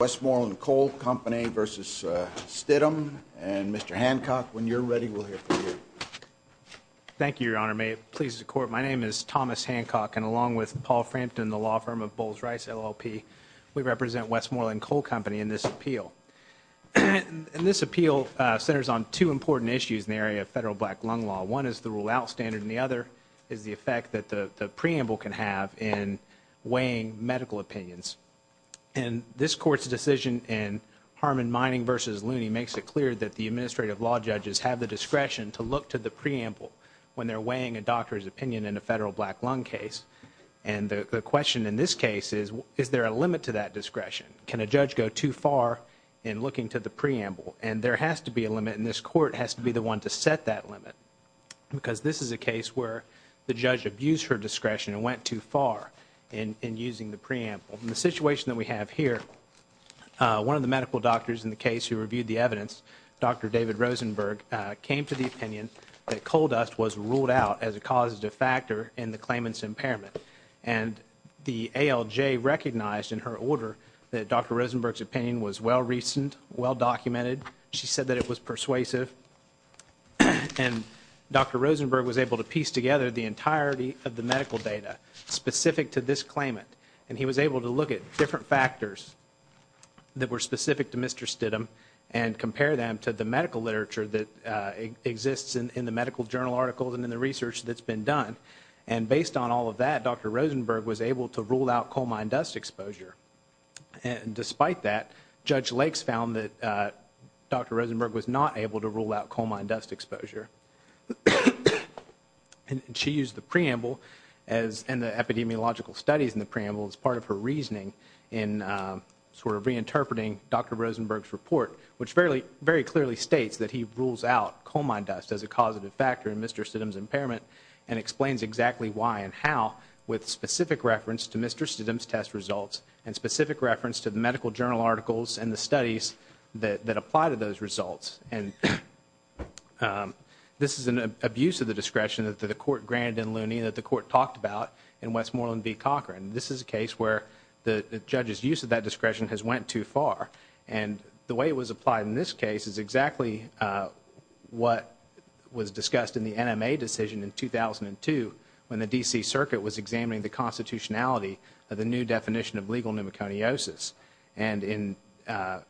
Westmoreland Coal Company v. Stidham. And Mr. Hancock, when you're ready, we'll hear from you. Thank you, Your Honor. May it please the Court, my name is Thomas Hancock, and along with Paul Frampton, the law firm of Bowles Rice, LLP, we represent Westmoreland Coal Company in this appeal. And this appeal centers on two important issues in the area of federal black lung law. One is the rule-out standard, and the other is the effect that the preamble can have in weighing medical opinions. And this Court's decision in Harmon Mining v. Looney makes it clear that the administrative law judges have the discretion to look to the preamble when they're weighing a doctor's opinion in a federal black lung case. And the question in this case is, is there a limit to that discretion? Can a judge go too far in looking to the preamble? And there has to be a limit, and this Court has to be the one to set that limit. In the situation that we have here, one of the medical doctors in the case who reviewed the evidence, Dr. David Rosenberg, came to the opinion that coal dust was ruled out as a causative factor in the claimant's impairment. And the ALJ recognized in her order that Dr. Rosenberg's opinion was well-received, well-documented. She said that it was persuasive. And Dr. Rosenberg was able to piece together the entirety of the different factors that were specific to Mr. Stidham and compare them to the medical literature that exists in the medical journal articles and in the research that's been done. And based on all of that, Dr. Rosenberg was able to rule out coal mine dust exposure. And despite that, Judge Lakes found that Dr. Rosenberg was not able to rule out coal mine dust exposure. And she used the preamble and the epidemiological studies in the sort of reinterpreting Dr. Rosenberg's report, which very clearly states that he rules out coal mine dust as a causative factor in Mr. Stidham's impairment and explains exactly why and how with specific reference to Mr. Stidham's test results and specific reference to the medical journal articles and the studies that apply to those results. And this is an abuse of the discretion that the Court granted in Looney that the Court talked about in that discretion has went too far. And the way it was applied in this case is exactly what was discussed in the NMA decision in 2002 when the D.C. Circuit was examining the constitutionality of the new definition of legal pneumoconiosis. And in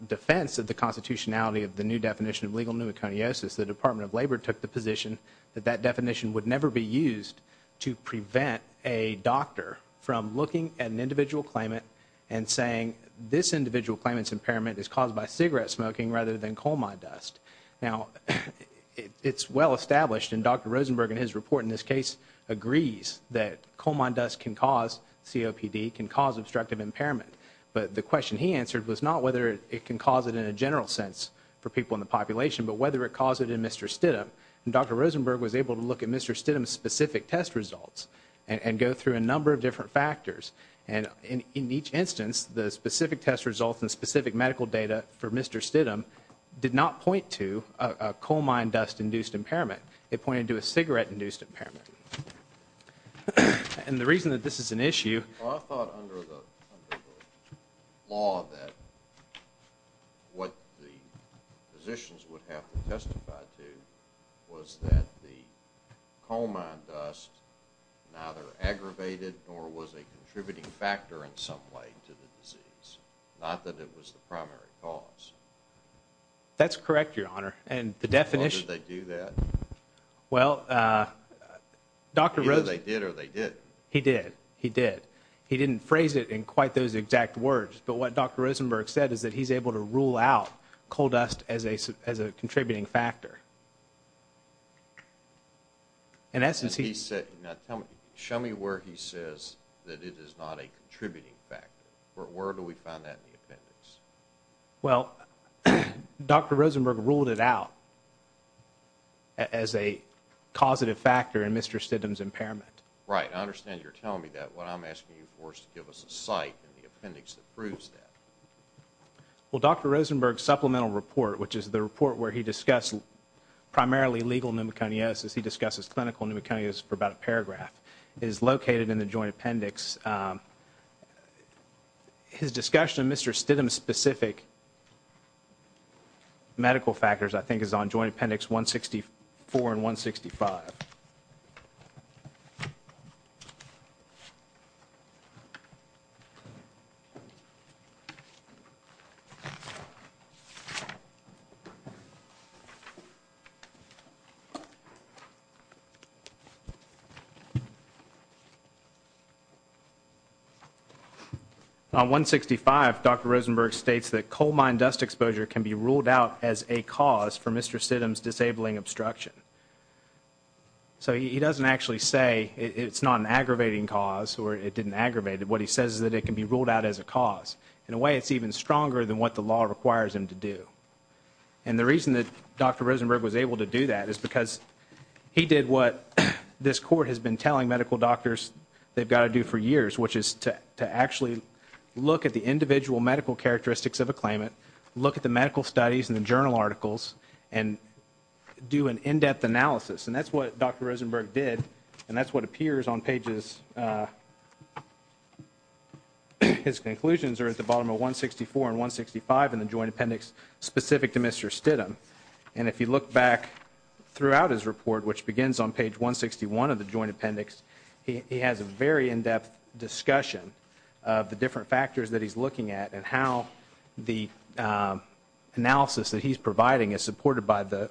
defense of the constitutionality of the new definition of legal pneumoconiosis, the Department of Labor took the position that that definition would never be used to prevent a doctor from looking at an individual claimant and saying this individual claimant's impairment is caused by cigarette smoking rather than coal mine dust. Now, it's well established, and Dr. Rosenberg in his report in this case agrees that coal mine dust can cause COPD, can cause obstructive impairment. But the question he answered was not whether it can cause it in a general sense for people in the population, but whether it caused it in Dr. Rosenberg was able to look at Mr. Stidham's specific test results and go through a number of different factors. And in each instance, the specific test results and specific medical data for Mr. Stidham did not point to a coal mine dust-induced impairment. It pointed to a cigarette-induced impairment. And the reason that this is an issue… Well, I thought under the law that what the physicians would have to testify to was that the coal mine dust neither aggravated nor was a contributing factor in some way to the disease, not that it was the primary cause. That's correct, Your Honor. And the definition… Well, did they do that? Well, Dr. Rosenberg… Either they did or they didn't. He did. He did. He didn't phrase it in quite those exact words. But what Dr. Rosenberg said is that he's able to rule out coal dust as a contributing factor. In essence, he… And he said, now tell me, show me where he says that it is not a contributing factor. Where do we find that in the appendix? Well, Dr. Rosenberg ruled it out as a causative factor in Mr. Stidham's impairment. Right. I understand you're telling me that. What I'm asking you for is to give us a site in the appendix that proves that. Well, Dr. Rosenberg's supplemental report, which is the report where he discussed primarily legal pneumoconiosis, he discusses clinical pneumoconiosis for about a paragraph, is located in the joint appendix. His discussion of Mr. Stidham's specific medical factors, I think, is on joint appendix 164 and 165. On 165, Dr. Rosenberg states that coal mine dust exposure can be ruled out as a cause for Mr. Stidham's disabling obstruction. So he doesn't actually say it's not an aggravating cause or it didn't aggravate it. What he says is that it can be ruled out as a cause. In a way, it's even stronger than what the law requires him to do. And the reason that Dr. Rosenberg was able to do that is because he did what this court has been telling medical doctors they've got to do for years, which is to actually look at the individual medical characteristics of a claimant, look at the medical studies and the journal articles, and do an in-depth analysis. And that's what Dr. Rosenberg did, and that's what appears on pages... His conclusions are at the bottom of 164 and 165 in the joint appendix specific to Mr. Stidham. And if you look back throughout his report, which begins on page 161 of the joint appendix, he has a very in-depth discussion of the different factors that he's looking at and how the analysis that he's providing is supported by the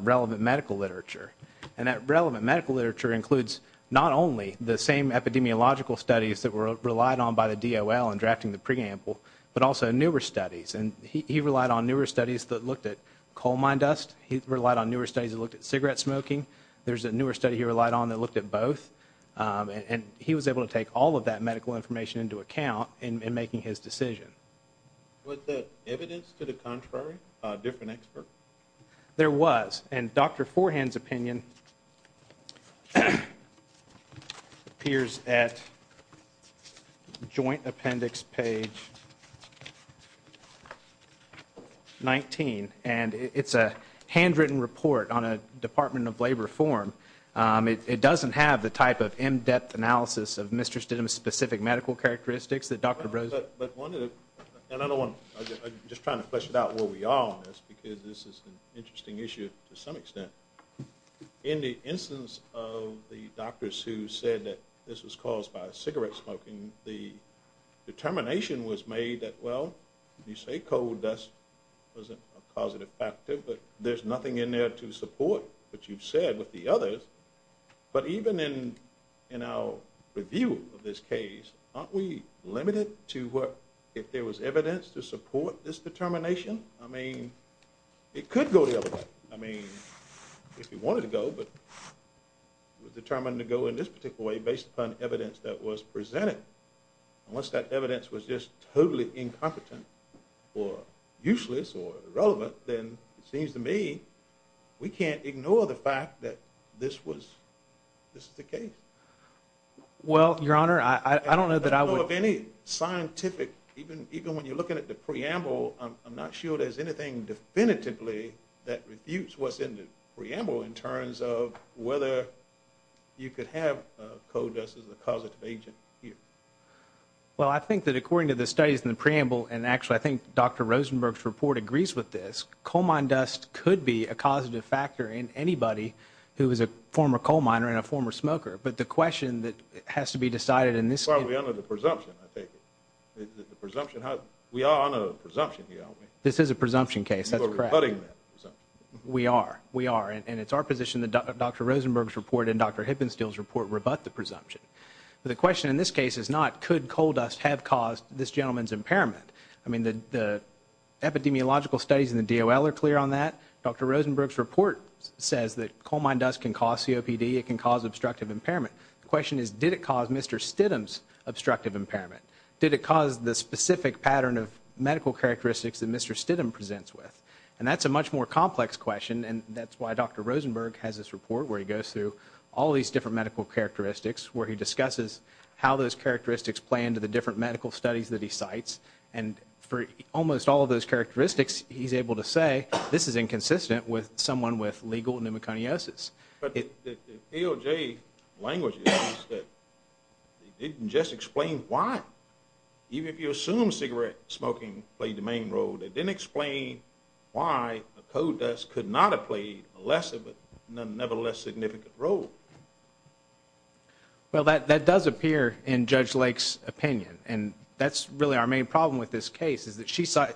relevant medical literature. And that relevant medical literature includes not only the same epidemiological studies that were relied on by the DOL in drafting the preamble, but also newer studies. And he relied on newer studies that looked at coal mine dust. He relied on newer studies that looked at cigarette smoking. There's a newer study he relied on that looked at both. And he was able to take all of that medical information into account in making his decision. Was there evidence to the contrary, a different expert? There was, and Dr. Forehand's opinion appears at joint appendix page 19, and it's a handwritten report on a Department of Labor form. It doesn't have the type of in-depth analysis of Mr. Stidham's specific medical characteristics that Dr. Rosenberg... I'm just trying to flesh it out where we are on this because this is an interesting issue to some extent. In the instance of the doctors who said that this was caused by cigarette smoking, the determination was made that, well, you say coal dust was a causative factor, but there's nothing in there to support what you've said with the others. But even in our review of this case, aren't we limited to if there was evidence to support this determination? I mean, it could go the other way. I mean, if it wanted to go, but it was determined to go in this particular way based upon evidence that was presented. Unless that evidence was just totally incompetent or useless or irrelevant, then it seems to me we can't ignore the fact that this is the case. Well, Your Honor, I don't know that I would... I don't know of any scientific, even when you're looking at the preamble, I'm not sure there's anything definitively that refutes what's in the preamble in terms of whether you could have coal dust as a causative agent here. Well, I think that according to the studies in the preamble, and actually I think Dr. Rosenberg's report agrees with this, coal mine dust could be a causative factor in anybody who is a former coal miner and a former smoker. But the question that has to be decided in this case... Well, we honor the presumption, I take it. The presumption, we honor the presumption, do you know what I mean? This is a presumption case, that's correct. You are rebutting that presumption. We are. We are. And it's our position that Dr. Rosenberg's report and Dr. Hippenstiel's report rebut the presumption. But the question in this case is not, could coal dust have caused this gentleman's impairment? I mean, the epidemiological studies in the DOL are clear on that. Dr. Rosenberg's report says that coal mine dust can cause COPD. It can cause obstructive impairment. The question is, did it cause Mr. Stidham's obstructive impairment? Did it cause the specific pattern of medical characteristics that Mr. Stidham presents with? And that's a much more complex question, and that's why Dr. Rosenberg has this report where he goes through all these different medical characteristics, where he discusses how those characteristics play into the different medical studies that he cites. And for almost all of those characteristics, he's able to say, this is inconsistent with someone with legal pneumoconiosis. But the DOJ language is that they didn't just explain why. Even if you assume cigarette smoking played the main role, they didn't explain why coal dust could not have played a lesser but nevertheless significant role. Well, that does appear in Judge Lake's opinion. And that's really our main problem with this case, is that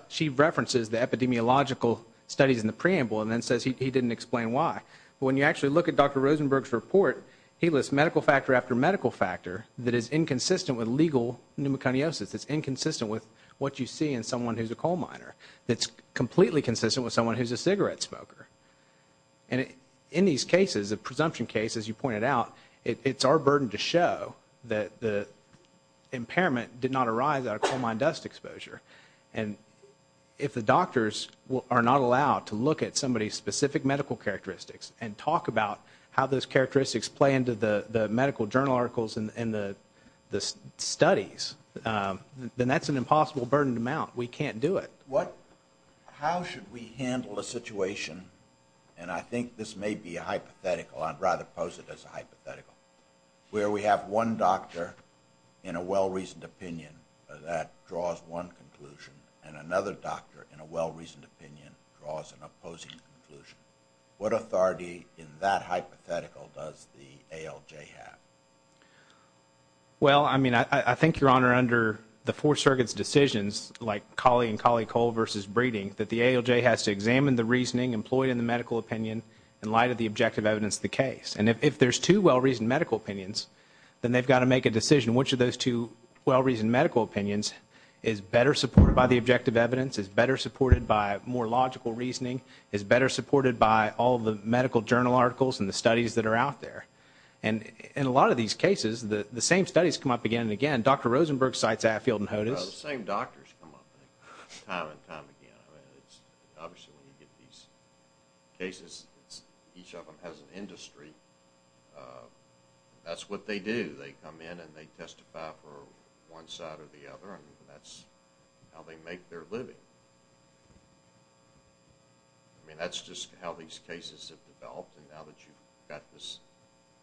she references the epidemiological studies in the preamble and then says he didn't explain why. But when you actually look at Dr. Rosenberg's report, he lists medical factor after medical factor that is inconsistent with legal pneumoconiosis. It's inconsistent with what you see in someone who's a coal miner. It's completely consistent with someone who's a cigarette smoker. And in these cases, a presumption case, as you pointed out, it's our burden to show that the impairment did not arise out of coal mine dust exposure. And if the doctors are not allowed to look at somebody's specific medical characteristics and talk about how those characteristics play into the medical journal articles and the studies, then that's an impossible burden to mount. We can't do it. How should we handle a situation, and I think this may be a hypothetical, I'd rather pose it as a hypothetical, where we have one doctor in a well-reasoned opinion that draws one conclusion and another doctor in a well-reasoned opinion draws an opposing conclusion. What authority in that hypothetical does the ALJ have? Well, I mean, I think, Your Honor, under the Four Circuit's decisions, like Cauley and Cauley-Cole versus Breeding, that the ALJ has to examine the reasoning employed in the medical opinion in light of the objective evidence of the case. And if there's two well-reasoned medical opinions, then they've got to make a decision. Which of those two well-reasoned medical opinions is better supported by the objective evidence, is better supported by more logical reasoning, is better supported by all the medical journal articles and the studies that are out there? And in a lot of these cases, the same studies come up again and again. Dr. Rosenberg cites Atfield and Hodes. Well, the same doctors come up time and time again. Obviously, when you get these cases, each of them has an industry. That's what they do. They come in and they testify for one side or the other, and that's how they make their living. I mean, that's just how these cases have developed. And now that you've got this,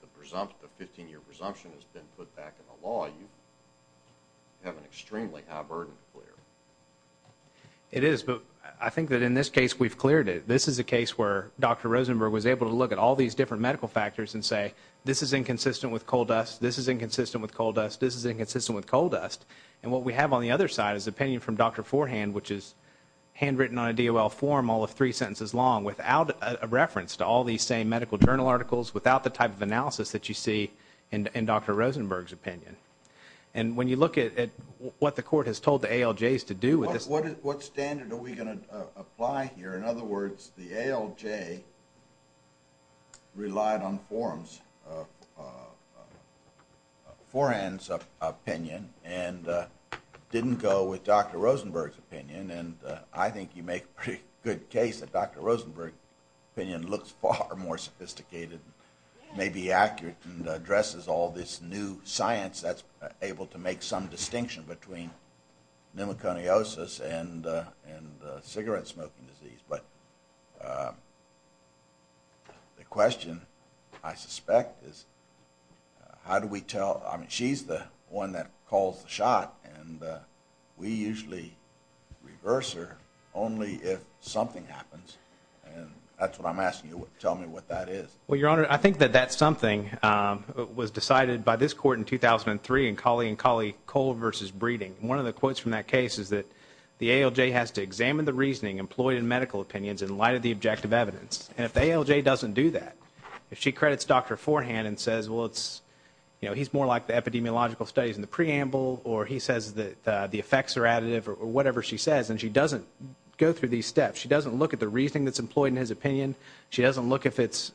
the 15-year presumption has been put back in the law, you have an extremely high burden to clear. It is, but I think that in this case we've cleared it. This is a case where Dr. Rosenberg was able to look at all these different medical factors and say this is inconsistent with coal dust, this is inconsistent with coal dust, this is inconsistent with coal dust. And what we have on the other side is opinion from Dr. Forehand, which is handwritten on a DOL form all of three sentences long without a reference to all these same medical journal articles, without the type of analysis that you see in Dr. Rosenberg's opinion. And when you look at what the court has told the ALJs to do with this. What standard are we going to apply here? In other words, the ALJ relied on Forehand's opinion and didn't go with Dr. Rosenberg's opinion, and I think you make a pretty good case that Dr. Rosenberg's opinion looks far more sophisticated, may be accurate, and addresses all this new science that's able to make some distinction between pneumoconiosis and cigarette smoking disease. But the question, I suspect, is how do we tell, I mean she's the one that calls the shot, and we usually reverse her only if something happens, and that's what I'm asking you to tell me what that is. Well, Your Honor, I think that that's something that was decided by this court in 2003 in Colley and Colley, Cole versus Breeding. One of the quotes from that case is that the ALJ has to examine the reasoning employed in medical opinions in light of the objective evidence. And if the ALJ doesn't do that, if she credits Dr. Forehand and says, well, he's more like the epidemiological studies in the preamble, or he says that the effects are additive, or whatever she says, and she doesn't go through these steps, she doesn't look at the reasoning that's employed in his opinion, she doesn't look if it's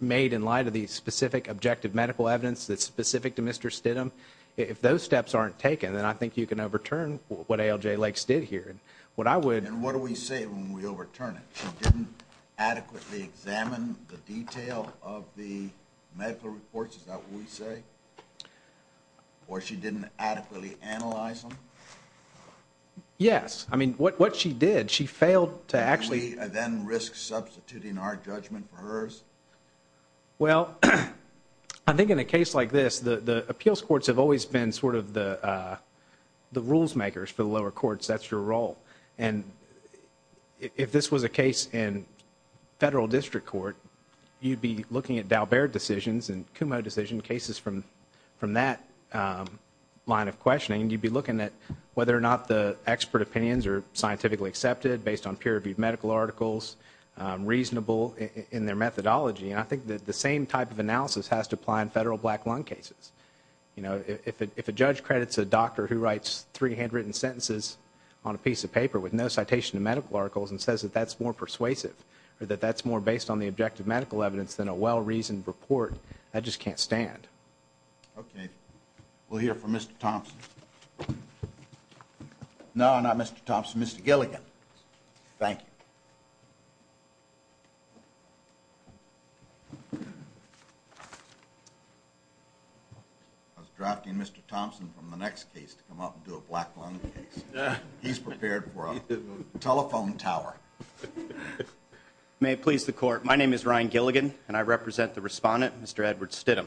made in light of the specific objective medical evidence that's specific to Mr. Stidham, if those steps aren't taken, then I think you can overturn what ALJ Lakes did here. And what I would... And what do we say when we overturn it? She didn't adequately examine the detail of the medical reports, is that what we say? Or she didn't adequately analyze them? Yes. I mean, what she did, she failed to actually... Well, I think in a case like this, the appeals courts have always been sort of the rules makers for the lower courts. That's your role. And if this was a case in federal district court, you'd be looking at Dalbert decisions and Kumo decision cases from that line of questioning. You'd be looking at whether or not the expert opinions are scientifically accepted based on peer-reviewed medical articles, reasonable in their methodology. And I think that the same type of analysis has to apply in federal black lung cases. If a judge credits a doctor who writes three handwritten sentences on a piece of paper with no citation of medical articles and says that that's more persuasive or that that's more based on the objective medical evidence than a well-reasoned report, that just can't stand. Okay. We'll hear from Mr. Thompson. No, not Mr. Thompson, Mr. Gilligan. Thank you. I was drafting Mr. Thompson from the next case to come up and do a black lung case. He's prepared for a telephone tower. May it please the court, my name is Ryan Gilligan, and I represent the respondent, Mr. Edward Stidham.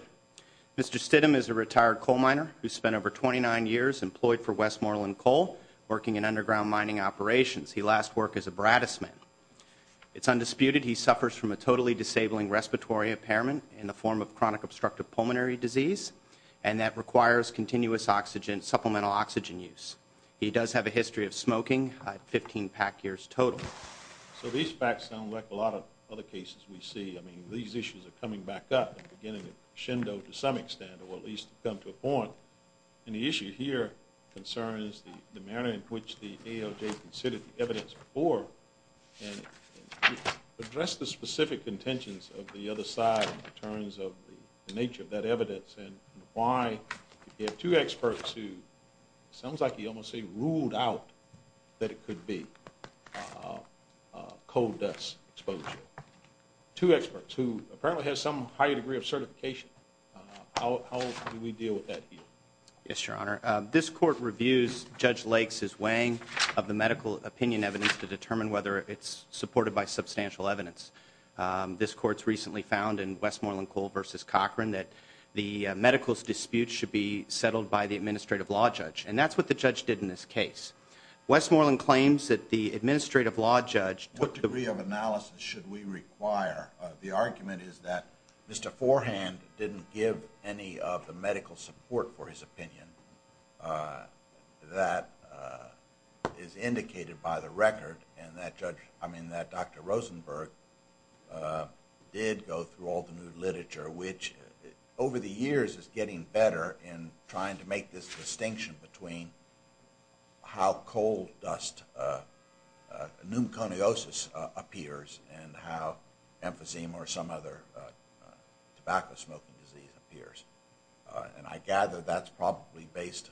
Mr. Stidham is a retired coal miner who spent over 29 years employed for Westmoreland Coal working in underground mining operations. He last worked as a brattisman. It's undisputed he suffers from a totally disabling respiratory impairment in the form of chronic obstructive pulmonary disease, and that requires continuous oxygen, supplemental oxygen use. He does have a history of smoking, 15 pack years total. So these facts sound like a lot of other cases we see. I mean, these issues are coming back up and beginning to crescendo to some extent, or at least come to a point. And the issue here concerns the manner in which the ALJ considered the evidence before and addressed the specific intentions of the other side in terms of the nature of that evidence and why we have two experts who it sounds like he almost ruled out that it could be coal dust exposure. Two experts who apparently have some higher degree of certification. How do we deal with that here? Yes, Your Honor. This court reviews Judge Lakes' weighing of the medical opinion evidence to determine whether it's supported by substantial evidence. This court's recently found in Westmoreland Coal v. Cochran that the medical disputes should be settled by the administrative law judge, and that's what the judge did in this case. Westmoreland claims that the administrative law judge took the degree of analysis should we require. The argument is that Mr. Forehand didn't give any of the medical support for his opinion. That is indicated by the record, and that Dr. Rosenberg did go through all the new literature, which over the years is getting better in trying to make this distinction between how coal dust, pneumoconiosis, appears and how emphysema or some other tobacco smoking disease appears. And I gather that's probably based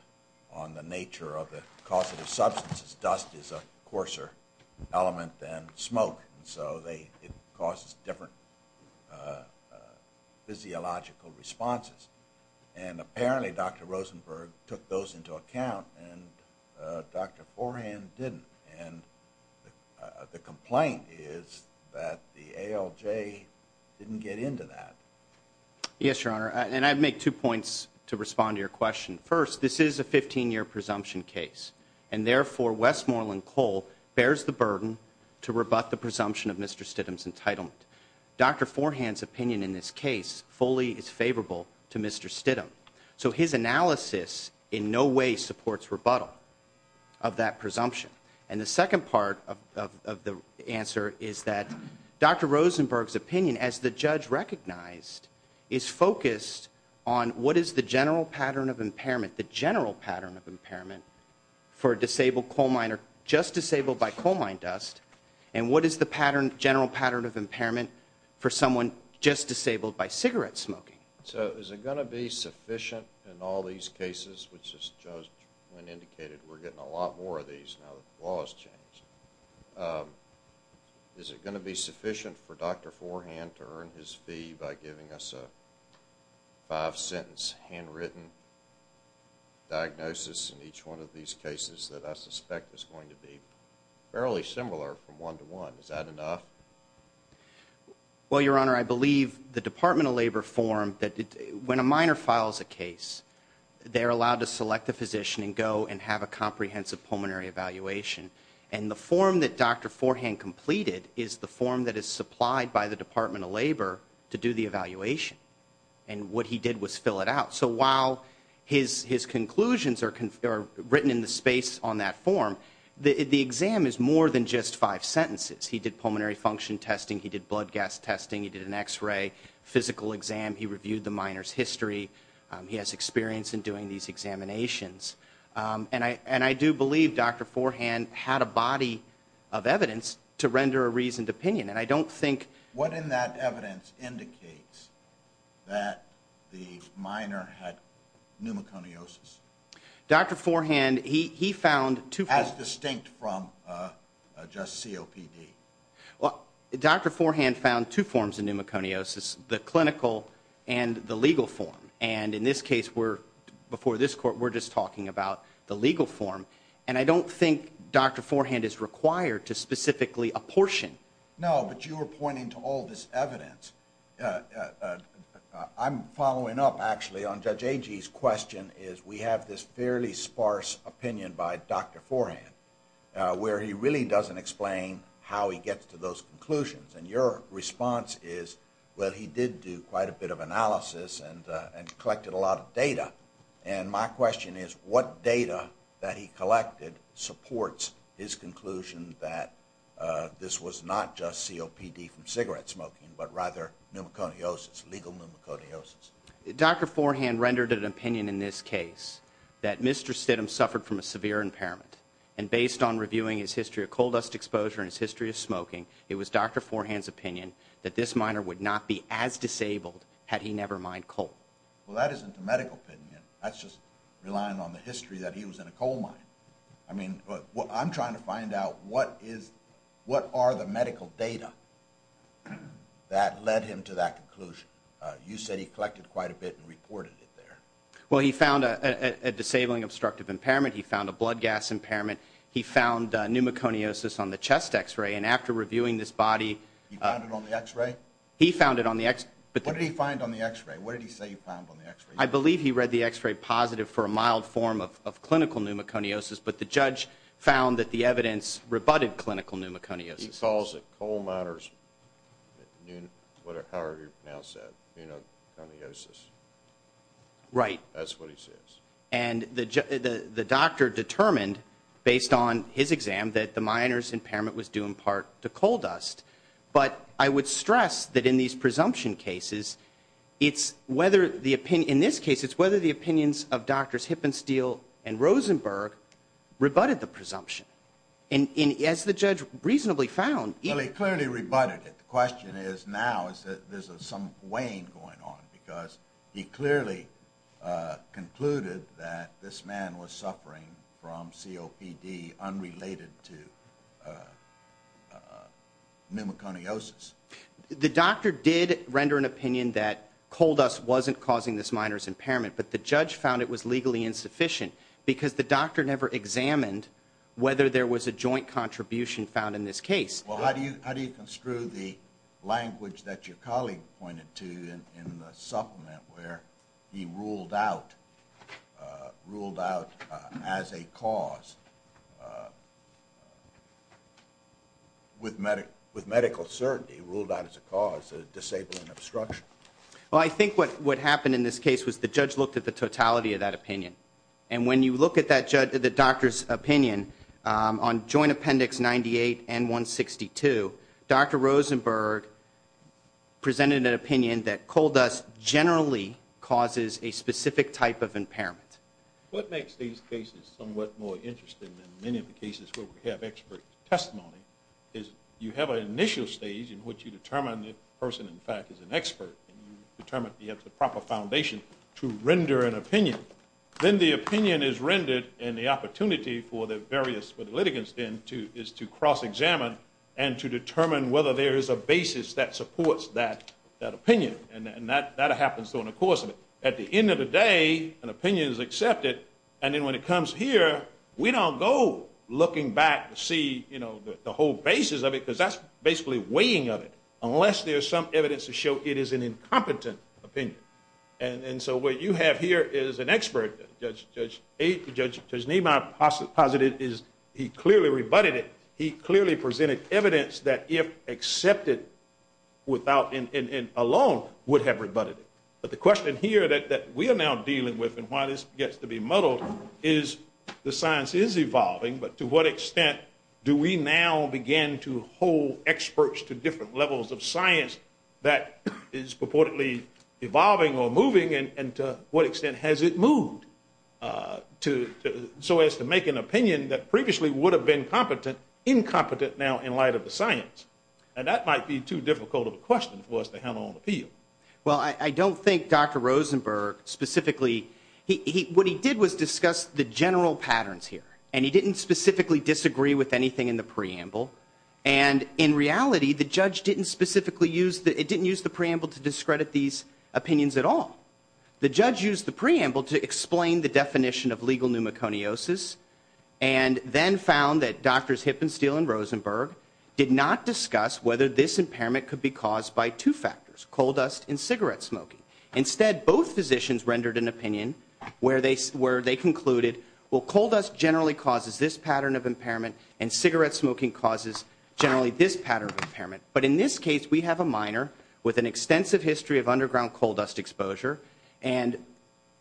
on the nature of the causative substances. Dust is a coarser element than smoke, and so it causes different physiological responses. And apparently Dr. Rosenberg took those into account, and Dr. Forehand didn't. And the complaint is that the ALJ didn't get into that. Yes, Your Honor, and I'd make two points to respond to your question. First, this is a 15-year presumption case, and therefore Westmoreland Coal bears the burden to rebut the presumption of Mr. Stidham's entitlement. Dr. Forehand's opinion in this case fully is favorable to Mr. Stidham. So his analysis in no way supports rebuttal of that presumption. And the second part of the answer is that Dr. Rosenberg's opinion, as the judge recognized, is focused on what is the general pattern of impairment, the general pattern of impairment for a disabled coal miner just disabled by coal mine dust, and what is the general pattern of impairment for someone just disabled by cigarette smoking. So is it going to be sufficient in all these cases, which as the judge indicated we're getting a lot more of these now that the law has changed, is it going to be sufficient for Dr. Forehand to earn his fee by giving us a five-sentence handwritten diagnosis in each one of these cases that I suspect is going to be fairly similar from one to one? Is that enough? Well, Your Honor, I believe the Department of Labor form, when a miner files a case, they're allowed to select a physician and go and have a comprehensive pulmonary evaluation. And the form that Dr. Forehand completed is the form that is supplied by the Department of Labor to do the evaluation. And what he did was fill it out. So while his conclusions are written in the space on that form, the exam is more than just five sentences. He did pulmonary function testing, he did blood gas testing, he did an X-ray, physical exam, he reviewed the miner's history, he has experience in doing these examinations. And I do believe Dr. Forehand had a body of evidence to render a reasoned opinion. What in that evidence indicates that the miner had pneumoconiosis? As distinct from just COPD. Well, Dr. Forehand found two forms of pneumoconiosis, the clinical and the legal form. And in this case, before this Court, we're just talking about the legal form. And I don't think Dr. Forehand is required to specifically apportion. No, but you were pointing to all this evidence. I'm following up, actually, on Judge Agee's question, is we have this fairly sparse opinion by Dr. Forehand where he really doesn't explain how he gets to those conclusions. And your response is, well, he did do quite a bit of analysis and collected a lot of data. And my question is, what data that he collected supports his conclusion that this was not just COPD from cigarette smoking, but rather pneumoconiosis, legal pneumoconiosis? Dr. Forehand rendered an opinion in this case that Mr. Stidham suffered from a severe impairment. And based on reviewing his history of coal dust exposure and his history of smoking, it was Dr. Forehand's opinion that this miner would not be as disabled had he never mined coal. Well, that isn't a medical opinion. That's just relying on the history that he was in a coal mine. I mean, I'm trying to find out what are the medical data that led him to that conclusion. You said he collected quite a bit and reported it there. Well, he found a disabling obstructive impairment. He found a blood gas impairment. He found pneumoconiosis on the chest X-ray. And after reviewing this body – He found it on the X-ray? He found it on the X – What did he find on the X-ray? What did he say he found on the X-ray? I believe he read the X-ray positive for a mild form of clinical pneumoconiosis, but the judge found that the evidence rebutted clinical pneumoconiosis. He calls it coal miner's pneumoconiosis. Right. That's what he says. And the doctor determined, based on his exam, that the miner's impairment was due in part to coal dust. But I would stress that in these presumption cases, it's whether the – in this case, it's whether the opinions of Doctors Hippensteel and Rosenberg rebutted the presumption. And as the judge reasonably found – Well, he clearly rebutted it. The question is now is that there's some weighing going on because he clearly concluded that this man was suffering from COPD unrelated to pneumoconiosis. The doctor did render an opinion that coal dust wasn't causing this miner's impairment, but the judge found it was legally insufficient because the doctor never examined whether there was a joint contribution found in this case. Well, how do you construe the language that your colleague pointed to in the supplement where he ruled out as a cause with medical certainty, ruled out as a cause, a disabling obstruction? Well, I think what happened in this case was the judge looked at the totality of that opinion. And when you look at the doctor's opinion on Joint Appendix 98 and 162, Dr. Rosenberg presented an opinion that coal dust generally causes a specific type of impairment. What makes these cases somewhat more interesting than many of the cases where we have expert testimony is you have an initial stage in which you determine the person, in fact, is an expert, and you determine that you have the proper foundation to render an opinion. Then the opinion is rendered and the opportunity for the various litigants then is to cross-examine and to determine whether there is a basis that supports that opinion. And that happens during the course of it. At the end of the day, an opinion is accepted, and then when it comes here, we don't go looking back to see the whole basis of it because that's basically weighing of it unless there's some evidence to show it is an incompetent opinion. And so what you have here is an expert, Judge Niemeyer posited he clearly rebutted it. He clearly presented evidence that if accepted alone would have rebutted it. But the question here that we are now dealing with and why this gets to be muddled is the science is evolving, but to what extent do we now begin to hold experts to different levels of science that is purportedly evolving or moving, and to what extent has it moved so as to make an opinion that previously would have been competent, incompetent now in light of the science? And that might be too difficult of a question for us to handle on the field. Well, I don't think Dr. Rosenberg specifically, what he did was discuss the general patterns here, and he didn't specifically disagree with anything in the preamble, and in reality, the judge didn't specifically use, it didn't use the preamble to discredit these opinions at all. The judge used the preamble to explain the definition of legal pneumoconiosis and then found that Drs. Hip and Steele and Rosenberg did not discuss whether this impairment could be caused by two factors, coal dust and cigarette smoking. Instead, both physicians rendered an opinion where they concluded, well, coal dust generally causes this pattern of impairment, and cigarette smoking causes generally this pattern of impairment. But in this case, we have a minor with an extensive history of underground coal dust exposure, and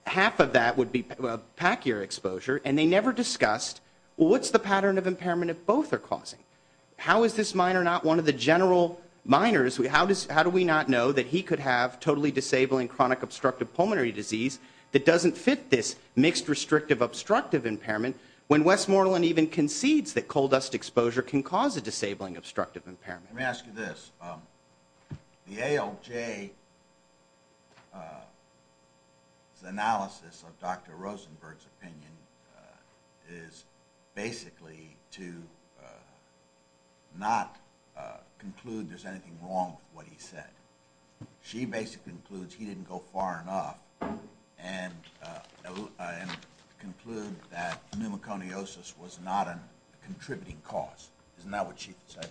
half of that would be packier exposure, and they never discussed, well, what's the pattern of impairment if both are causing? How is this minor not one of the general minors? How do we not know that he could have totally disabling chronic obstructive pulmonary disease that doesn't fit this mixed restrictive obstructive impairment when Westmoreland even concedes that coal dust exposure can cause a disabling obstructive impairment? Let me ask you this. The ALJ's analysis of Dr. Rosenberg's opinion is basically to not conclude there's anything wrong with what he said. She basically concludes he didn't go far enough and conclude that pneumoconiosis was not a contributing cause. Isn't that what she said?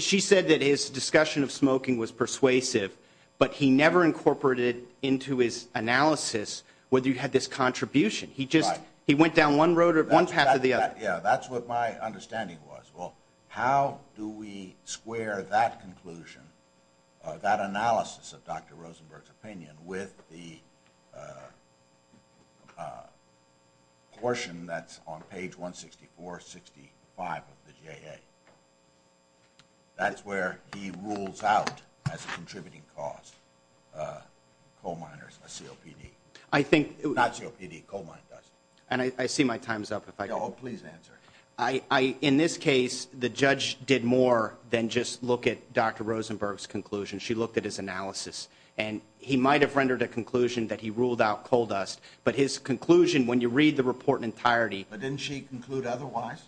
She said that his discussion of smoking was persuasive, but he never incorporated into his analysis whether he had this contribution. He just went down one road or one path or the other. Yeah, that's what my understanding was. Well, how do we square that conclusion, that analysis of Dr. Rosenberg's opinion, with the portion that's on page 164, 65 of the JA? That's where he rules out as a contributing cause coal miners, a COPD. Not COPD, coal mine dust. And I see my time's up. Oh, please answer. In this case, the judge did more than just look at Dr. Rosenberg's conclusion. She looked at his analysis, and he might have rendered a conclusion that he ruled out coal dust, but his conclusion, when you read the report in entirety. But didn't she conclude otherwise?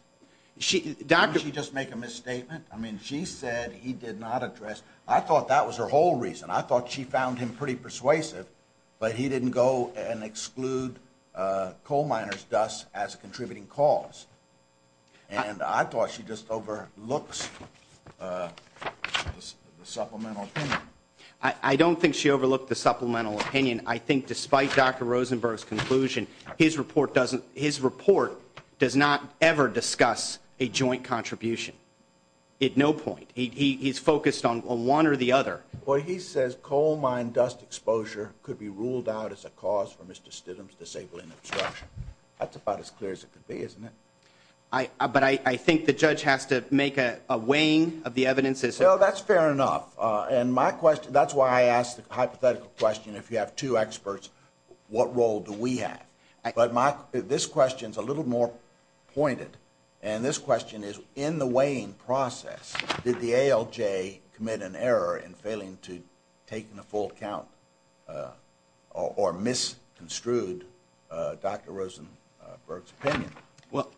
Didn't she just make a misstatement? I mean, she said he did not address. I thought that was her whole reason. I thought she found him pretty persuasive, but he didn't go and exclude coal miners' dust as a contributing cause. And I thought she just overlooked the supplemental opinion. I don't think she overlooked the supplemental opinion. I think despite Dr. Rosenberg's conclusion, his report does not ever discuss a joint contribution at no point. He's focused on one or the other. Well, he says coal mine dust exposure could be ruled out as a cause for Mr. Stidham's disabling obstruction. That's about as clear as it could be, isn't it? But I think the judge has to make a weighing of the evidence. Well, that's fair enough. And that's why I ask the hypothetical question, if you have two experts, what role do we have? But this question's a little more pointed. And this question is, in the weighing process, did the ALJ commit an error in failing to take in a full count or misconstrued Dr. Rosenberg's opinion? Well,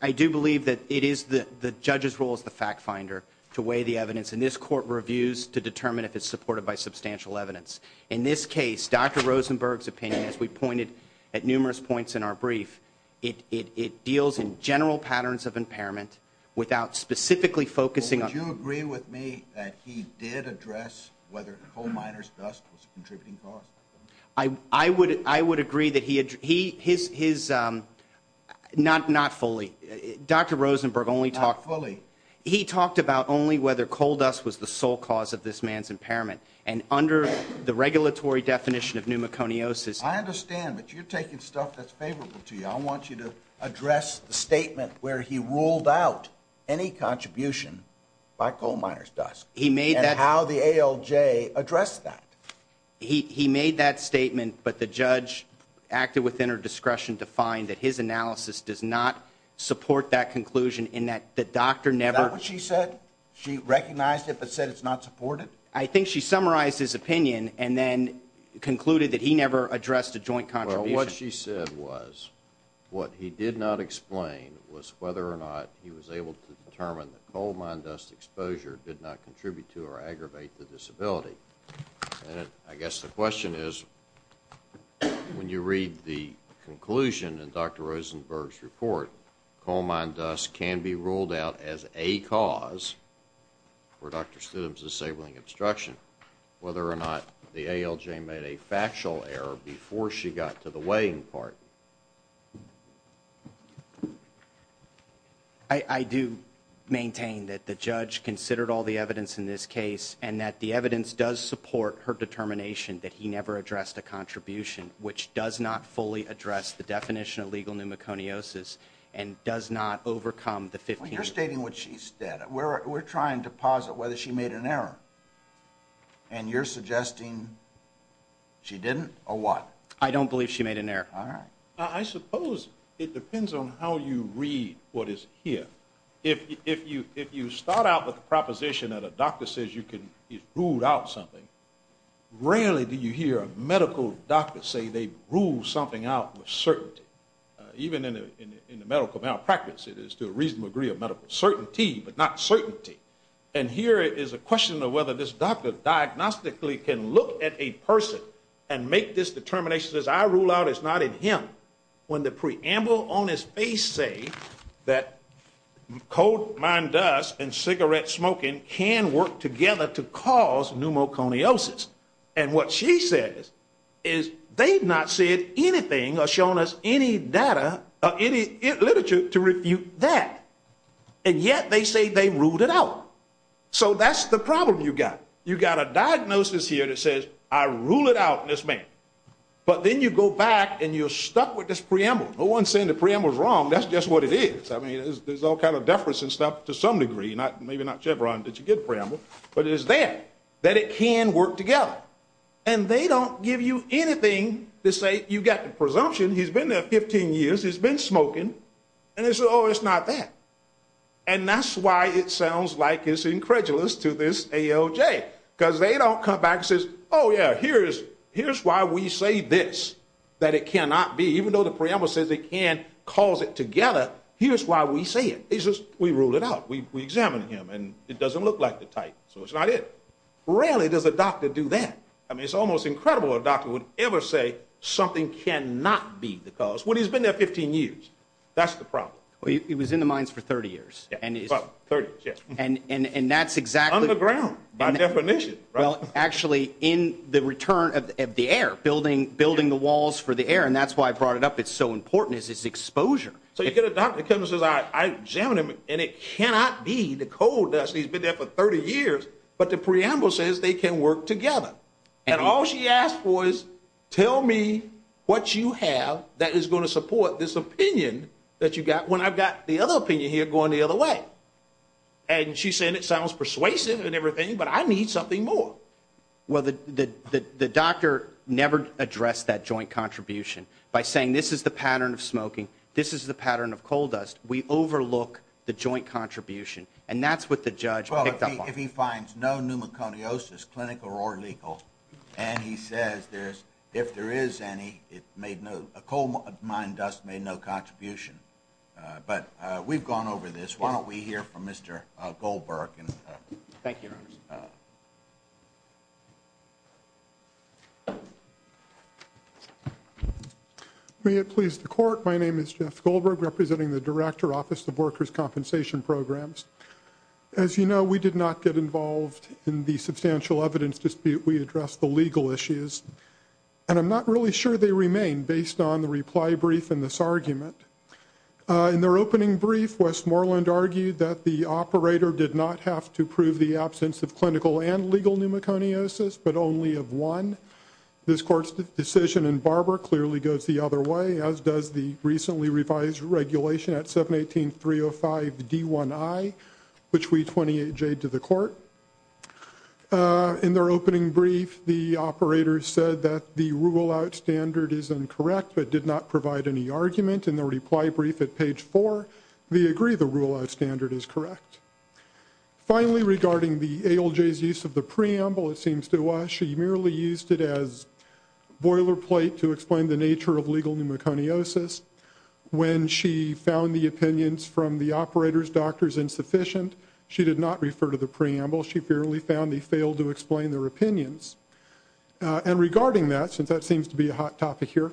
I do believe that it is the judge's role as the fact finder to weigh the evidence. And this court reviews to determine if it's supported by substantial evidence. In this case, Dr. Rosenberg's opinion, as we pointed at numerous points in our brief, it deals in general patterns of impairment without specifically focusing on- Well, would you agree with me that he did address whether coal miner's dust was a contributing cause? I would agree that he- not fully. Dr. Rosenberg only talked- Not fully. He talked about only whether coal dust was the sole cause of this man's impairment. And under the regulatory definition of pneumoconiosis- I understand, but you're taking stuff that's favorable to you. I want you to address the statement where he ruled out any contribution by coal miner's dust. He made that- And how the ALJ addressed that. He made that statement, but the judge acted within her discretion to find that his analysis does not support that conclusion in that the doctor never- Is that what she said? She recognized it but said it's not supported? I think she summarized his opinion and then concluded that he never addressed a joint contribution. Well, what she said was what he did not explain was whether or not he was able to determine that coal mine dust exposure did not contribute to or aggravate the disability. And I guess the question is, when you read the conclusion in Dr. Rosenberg's report, coal mine dust can be ruled out as a cause for Dr. Stidham's disabling obstruction, whether or not the ALJ made a factual error before she got to the weighing part. I do maintain that the judge considered all the evidence in this case and that the evidence does support her determination that he never addressed a contribution, which does not fully address the definition of legal pneumoconiosis and does not overcome the 15- Well, you're stating what she said. We're trying to posit whether she made an error, and you're suggesting she didn't or what? I don't believe she made an error. All right. I suppose it depends on how you read what is here. If you start out with the proposition that a doctor says you can rule out something, rarely do you hear a medical doctor say they rule something out with certainty. Even in the medical malpractice, it is to a reasonable degree of medical certainty, but not certainty. And here is a question of whether this doctor diagnostically can look at a person and make this determination, says I rule out it's not in him, when the preamble on his face say that coal mined dust and cigarette smoking can work together to cause pneumoconiosis. And what she says is they've not said anything or shown us any literature to refute that, and yet they say they ruled it out. So that's the problem you've got. You've got a diagnosis here that says I rule it out in this man. But then you go back and you're stuck with this preamble. No one's saying the preamble's wrong. That's just what it is. I mean, there's all kind of deference and stuff to some degree, maybe not Chevron that you get a preamble. But it is there that it can work together. And they don't give you anything to say you've got the presumption he's been there 15 years, he's been smoking, and they say, oh, it's not that. And that's why it sounds like it's incredulous to this AOJ, because they don't come back and say, oh, yeah, here's why we say this, that it cannot be, even though the preamble says it can cause it together, here's why we say it. It's just we rule it out. We examine him, and it doesn't look like the type, so it's not it. Rarely does a doctor do that. I mean, it's almost incredible a doctor would ever say something cannot be the cause when he's been there 15 years. That's the problem. Well, he was in the mines for 30 years. And that's exactly. Underground, by definition. Well, actually, in the return of the air, building the walls for the air, and that's why I brought it up. It's so important is its exposure. So you get a doctor that says, I examine him, and it cannot be the cold dust. He's been there for 30 years, but the preamble says they can work together. And all she asked for is, tell me what you have that is going to support this opinion that you got, when I've got the other opinion here going the other way. And she's saying it sounds persuasive and everything, but I need something more. Well, the doctor never addressed that joint contribution. By saying this is the pattern of smoking, this is the pattern of cold dust, we overlook the joint contribution. And that's what the judge picked up on. If he finds no pneumoconiosis, clinical or legal, and he says if there is any, a coal mine dust made no contribution. But we've gone over this. Why don't we hear from Mr. Goldberg. Thank you, Your Honor. May it please the Court, my name is Jeff Goldberg, representing the Director, Office of Workers' Compensation Programs. As you know, we did not get involved in the substantial evidence dispute. We addressed the legal issues. And I'm not really sure they remain, based on the reply brief in this argument. In their opening brief, Westmoreland argued that the operator did not have to prove the absence of clinical and legal pneumoconiosis, but only of one. This Court's decision in Barber clearly goes the other way, as does the recently revised regulation at 718.305.D1I, which we 28J'd to the Court. In their opening brief, the operator said that the rule-out standard is incorrect, but did not provide any argument. In the reply brief at page four, we agree the rule-out standard is correct. Finally, regarding the ALJ's use of the preamble, it seems to us she merely used it as boilerplate to explain the nature of legal pneumoconiosis. When she found the opinions from the operator's doctors insufficient, she did not refer to the preamble. She fairly found they failed to explain their opinions. And regarding that, since that seems to be a hot topic here,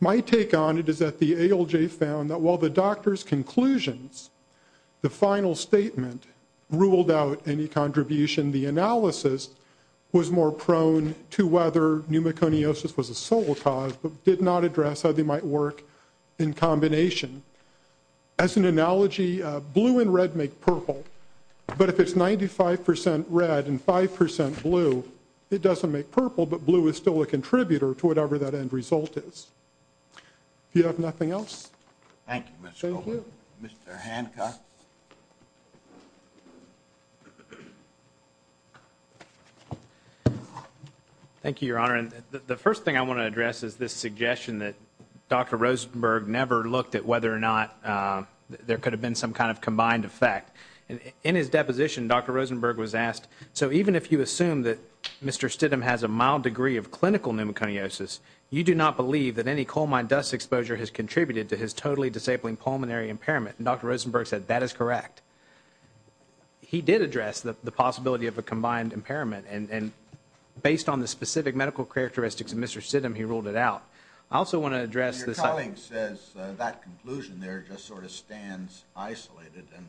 my take on it is that the ALJ found that while the doctor's conclusions, the final statement, ruled out any contribution. The analysis was more prone to whether pneumoconiosis was a sole cause, but did not address how they might work in combination. As an analogy, blue and red make purple. But if it's 95% red and 5% blue, it doesn't make purple, but blue is still a contributor to whatever that end result is. Do you have nothing else? Thank you, Mr. Coleman. Thank you. Mr. Hancock. Thank you, Your Honor. The first thing I want to address is this suggestion that Dr. Rosenberg never looked at whether or not there could have been some kind of combined effect. In his deposition, Dr. Rosenberg was asked, so even if you assume that Mr. Stidham has a mild degree of clinical pneumoconiosis, you do not believe that any coal mine dust exposure has contributed to his totally disabling pulmonary impairment. And Dr. Rosenberg said that is correct. He did address the possibility of a combined impairment, and based on the specific medical characteristics of Mr. Stidham, he ruled it out. I also want to address this. My colleague says that conclusion there just sort of stands isolated, and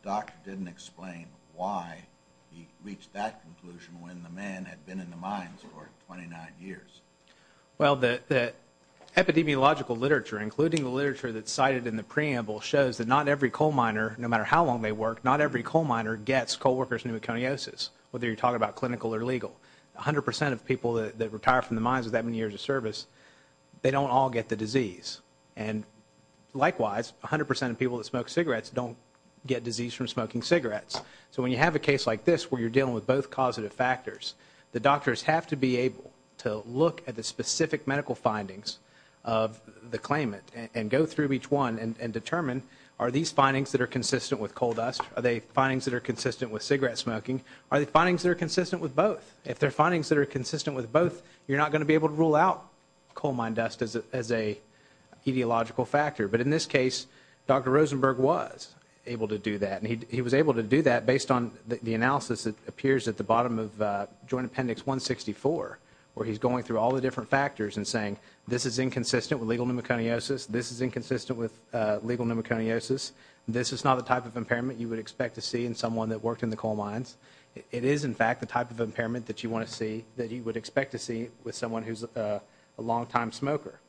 the doctor didn't explain why he reached that conclusion when the man had been in the mines for 29 years. Well, the epidemiological literature, including the literature that's cited in the preamble, shows that not every coal miner, no matter how long they work, not every coal miner gets coal worker's pneumoconiosis, whether you're talking about clinical or legal. A hundred percent of people that retire from the mines with that many years of service, they don't all get the disease. And likewise, a hundred percent of people that smoke cigarettes don't get disease from smoking cigarettes. So when you have a case like this where you're dealing with both causative factors, the doctors have to be able to look at the specific medical findings of the claimant and go through each one and determine are these findings that are consistent with coal dust, are they findings that are consistent with cigarette smoking, are they findings that are consistent with both? If they're findings that are consistent with both, you're not going to be able to rule out coal mine dust as a etiological factor. But in this case, Dr. Rosenberg was able to do that, and he was able to do that based on the analysis that appears at the bottom of Joint Appendix 164, where he's going through all the different factors and saying this is inconsistent with legal pneumoconiosis, this is inconsistent with legal pneumoconiosis, this is not the type of impairment you would expect to see in someone that worked in the coal mines. It is, in fact, the type of impairment that you want to see, that you would expect to see with someone who's a longtime smoker.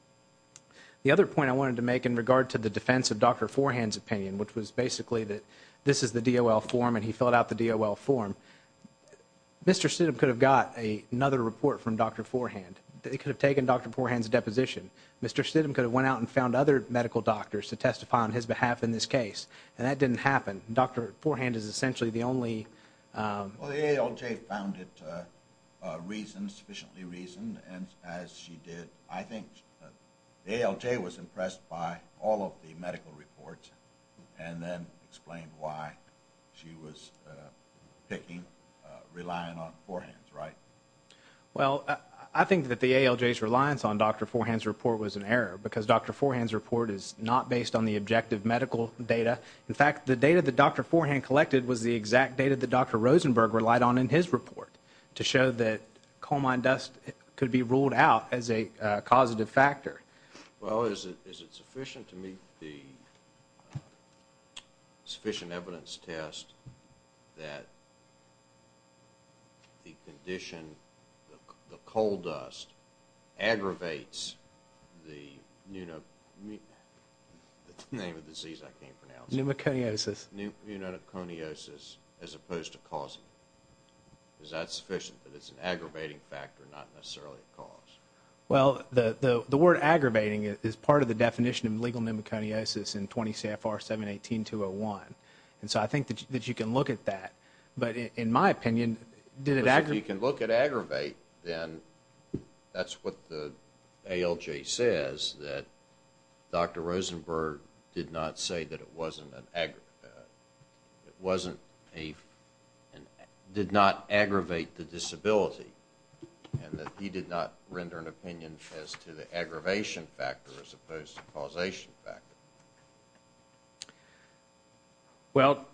The other point I wanted to make in regard to the defense of Dr. Forehand's opinion, which was basically that this is the DOL form and he filled out the DOL form, Mr. Stidham could have got another report from Dr. Forehand. They could have taken Dr. Forehand's deposition. Mr. Stidham could have went out and found other medical doctors to testify on his behalf in this case, and that didn't happen. Dr. Forehand is essentially the only – Well, the ALJ found it reasoned, sufficiently reasoned, and as she did, I think the ALJ was impressed by all of the medical reports and then explained why she was picking, relying on Forehand's, right? Well, I think that the ALJ's reliance on Dr. Forehand's report was an error because Dr. Forehand's report is not based on the objective medical data. In fact, the data that Dr. Forehand collected was the exact data that Dr. Rosenberg relied on in his report to show that coal mine dust could be ruled out as a causative factor. Well, is it sufficient to meet the sufficient evidence test that the condition, the coal dust aggravates the pneumoconiosis as opposed to causing it? Is that sufficient that it's an aggravating factor, not necessarily a cause? Well, the word aggravating is part of the definition of legal pneumoconiosis in 20 CFR 718-201, and so I think that you can look at that, but in my opinion, did it – If you can look at aggravate, then that's what the ALJ says, that Dr. Rosenberg did not say that it wasn't an – it wasn't a – and that he did not render an opinion as to the aggravation factor as opposed to causation factor. Well,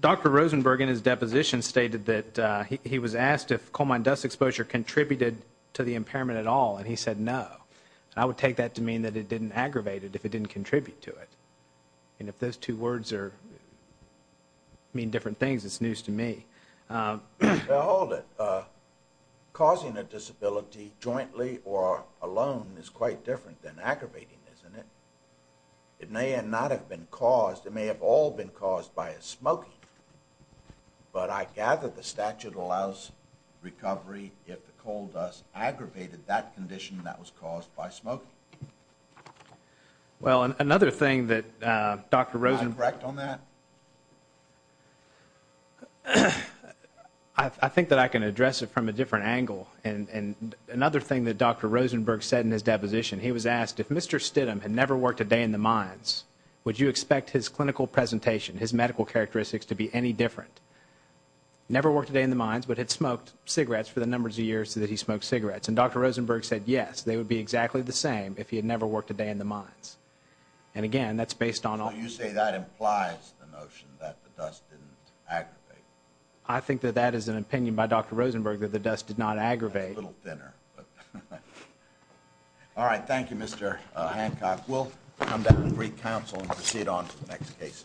Dr. Rosenberg in his deposition stated that he was asked if coal mine dust exposure contributed to the impairment at all, and he said no. I would take that to mean that it didn't aggravate it if it didn't contribute to it. And if those two words are – mean different things, it's news to me. Well, hold it. Causing a disability jointly or alone is quite different than aggravating, isn't it? It may not have been caused – it may have all been caused by a smoking, but I gather the statute allows recovery if the coal dust aggravated that condition that was caused by smoking. Well, another thing that Dr. Rosenberg – Am I correct on that? I think that I can address it from a different angle. And another thing that Dr. Rosenberg said in his deposition, he was asked if Mr. Stidham had never worked a day in the mines, would you expect his clinical presentation, his medical characteristics to be any different? Never worked a day in the mines, but had smoked cigarettes for the numbers of years that he smoked cigarettes. And Dr. Rosenberg said yes, they would be exactly the same if he had never worked a day in the mines. And, again, that's based on – Well, you say that implies the notion that the dust didn't aggravate. I think that that is an opinion by Dr. Rosenberg, that the dust did not aggravate. A little thinner. All right, thank you, Mr. Hancock. We'll come back and re-counsel and proceed on to the next case. Thank you.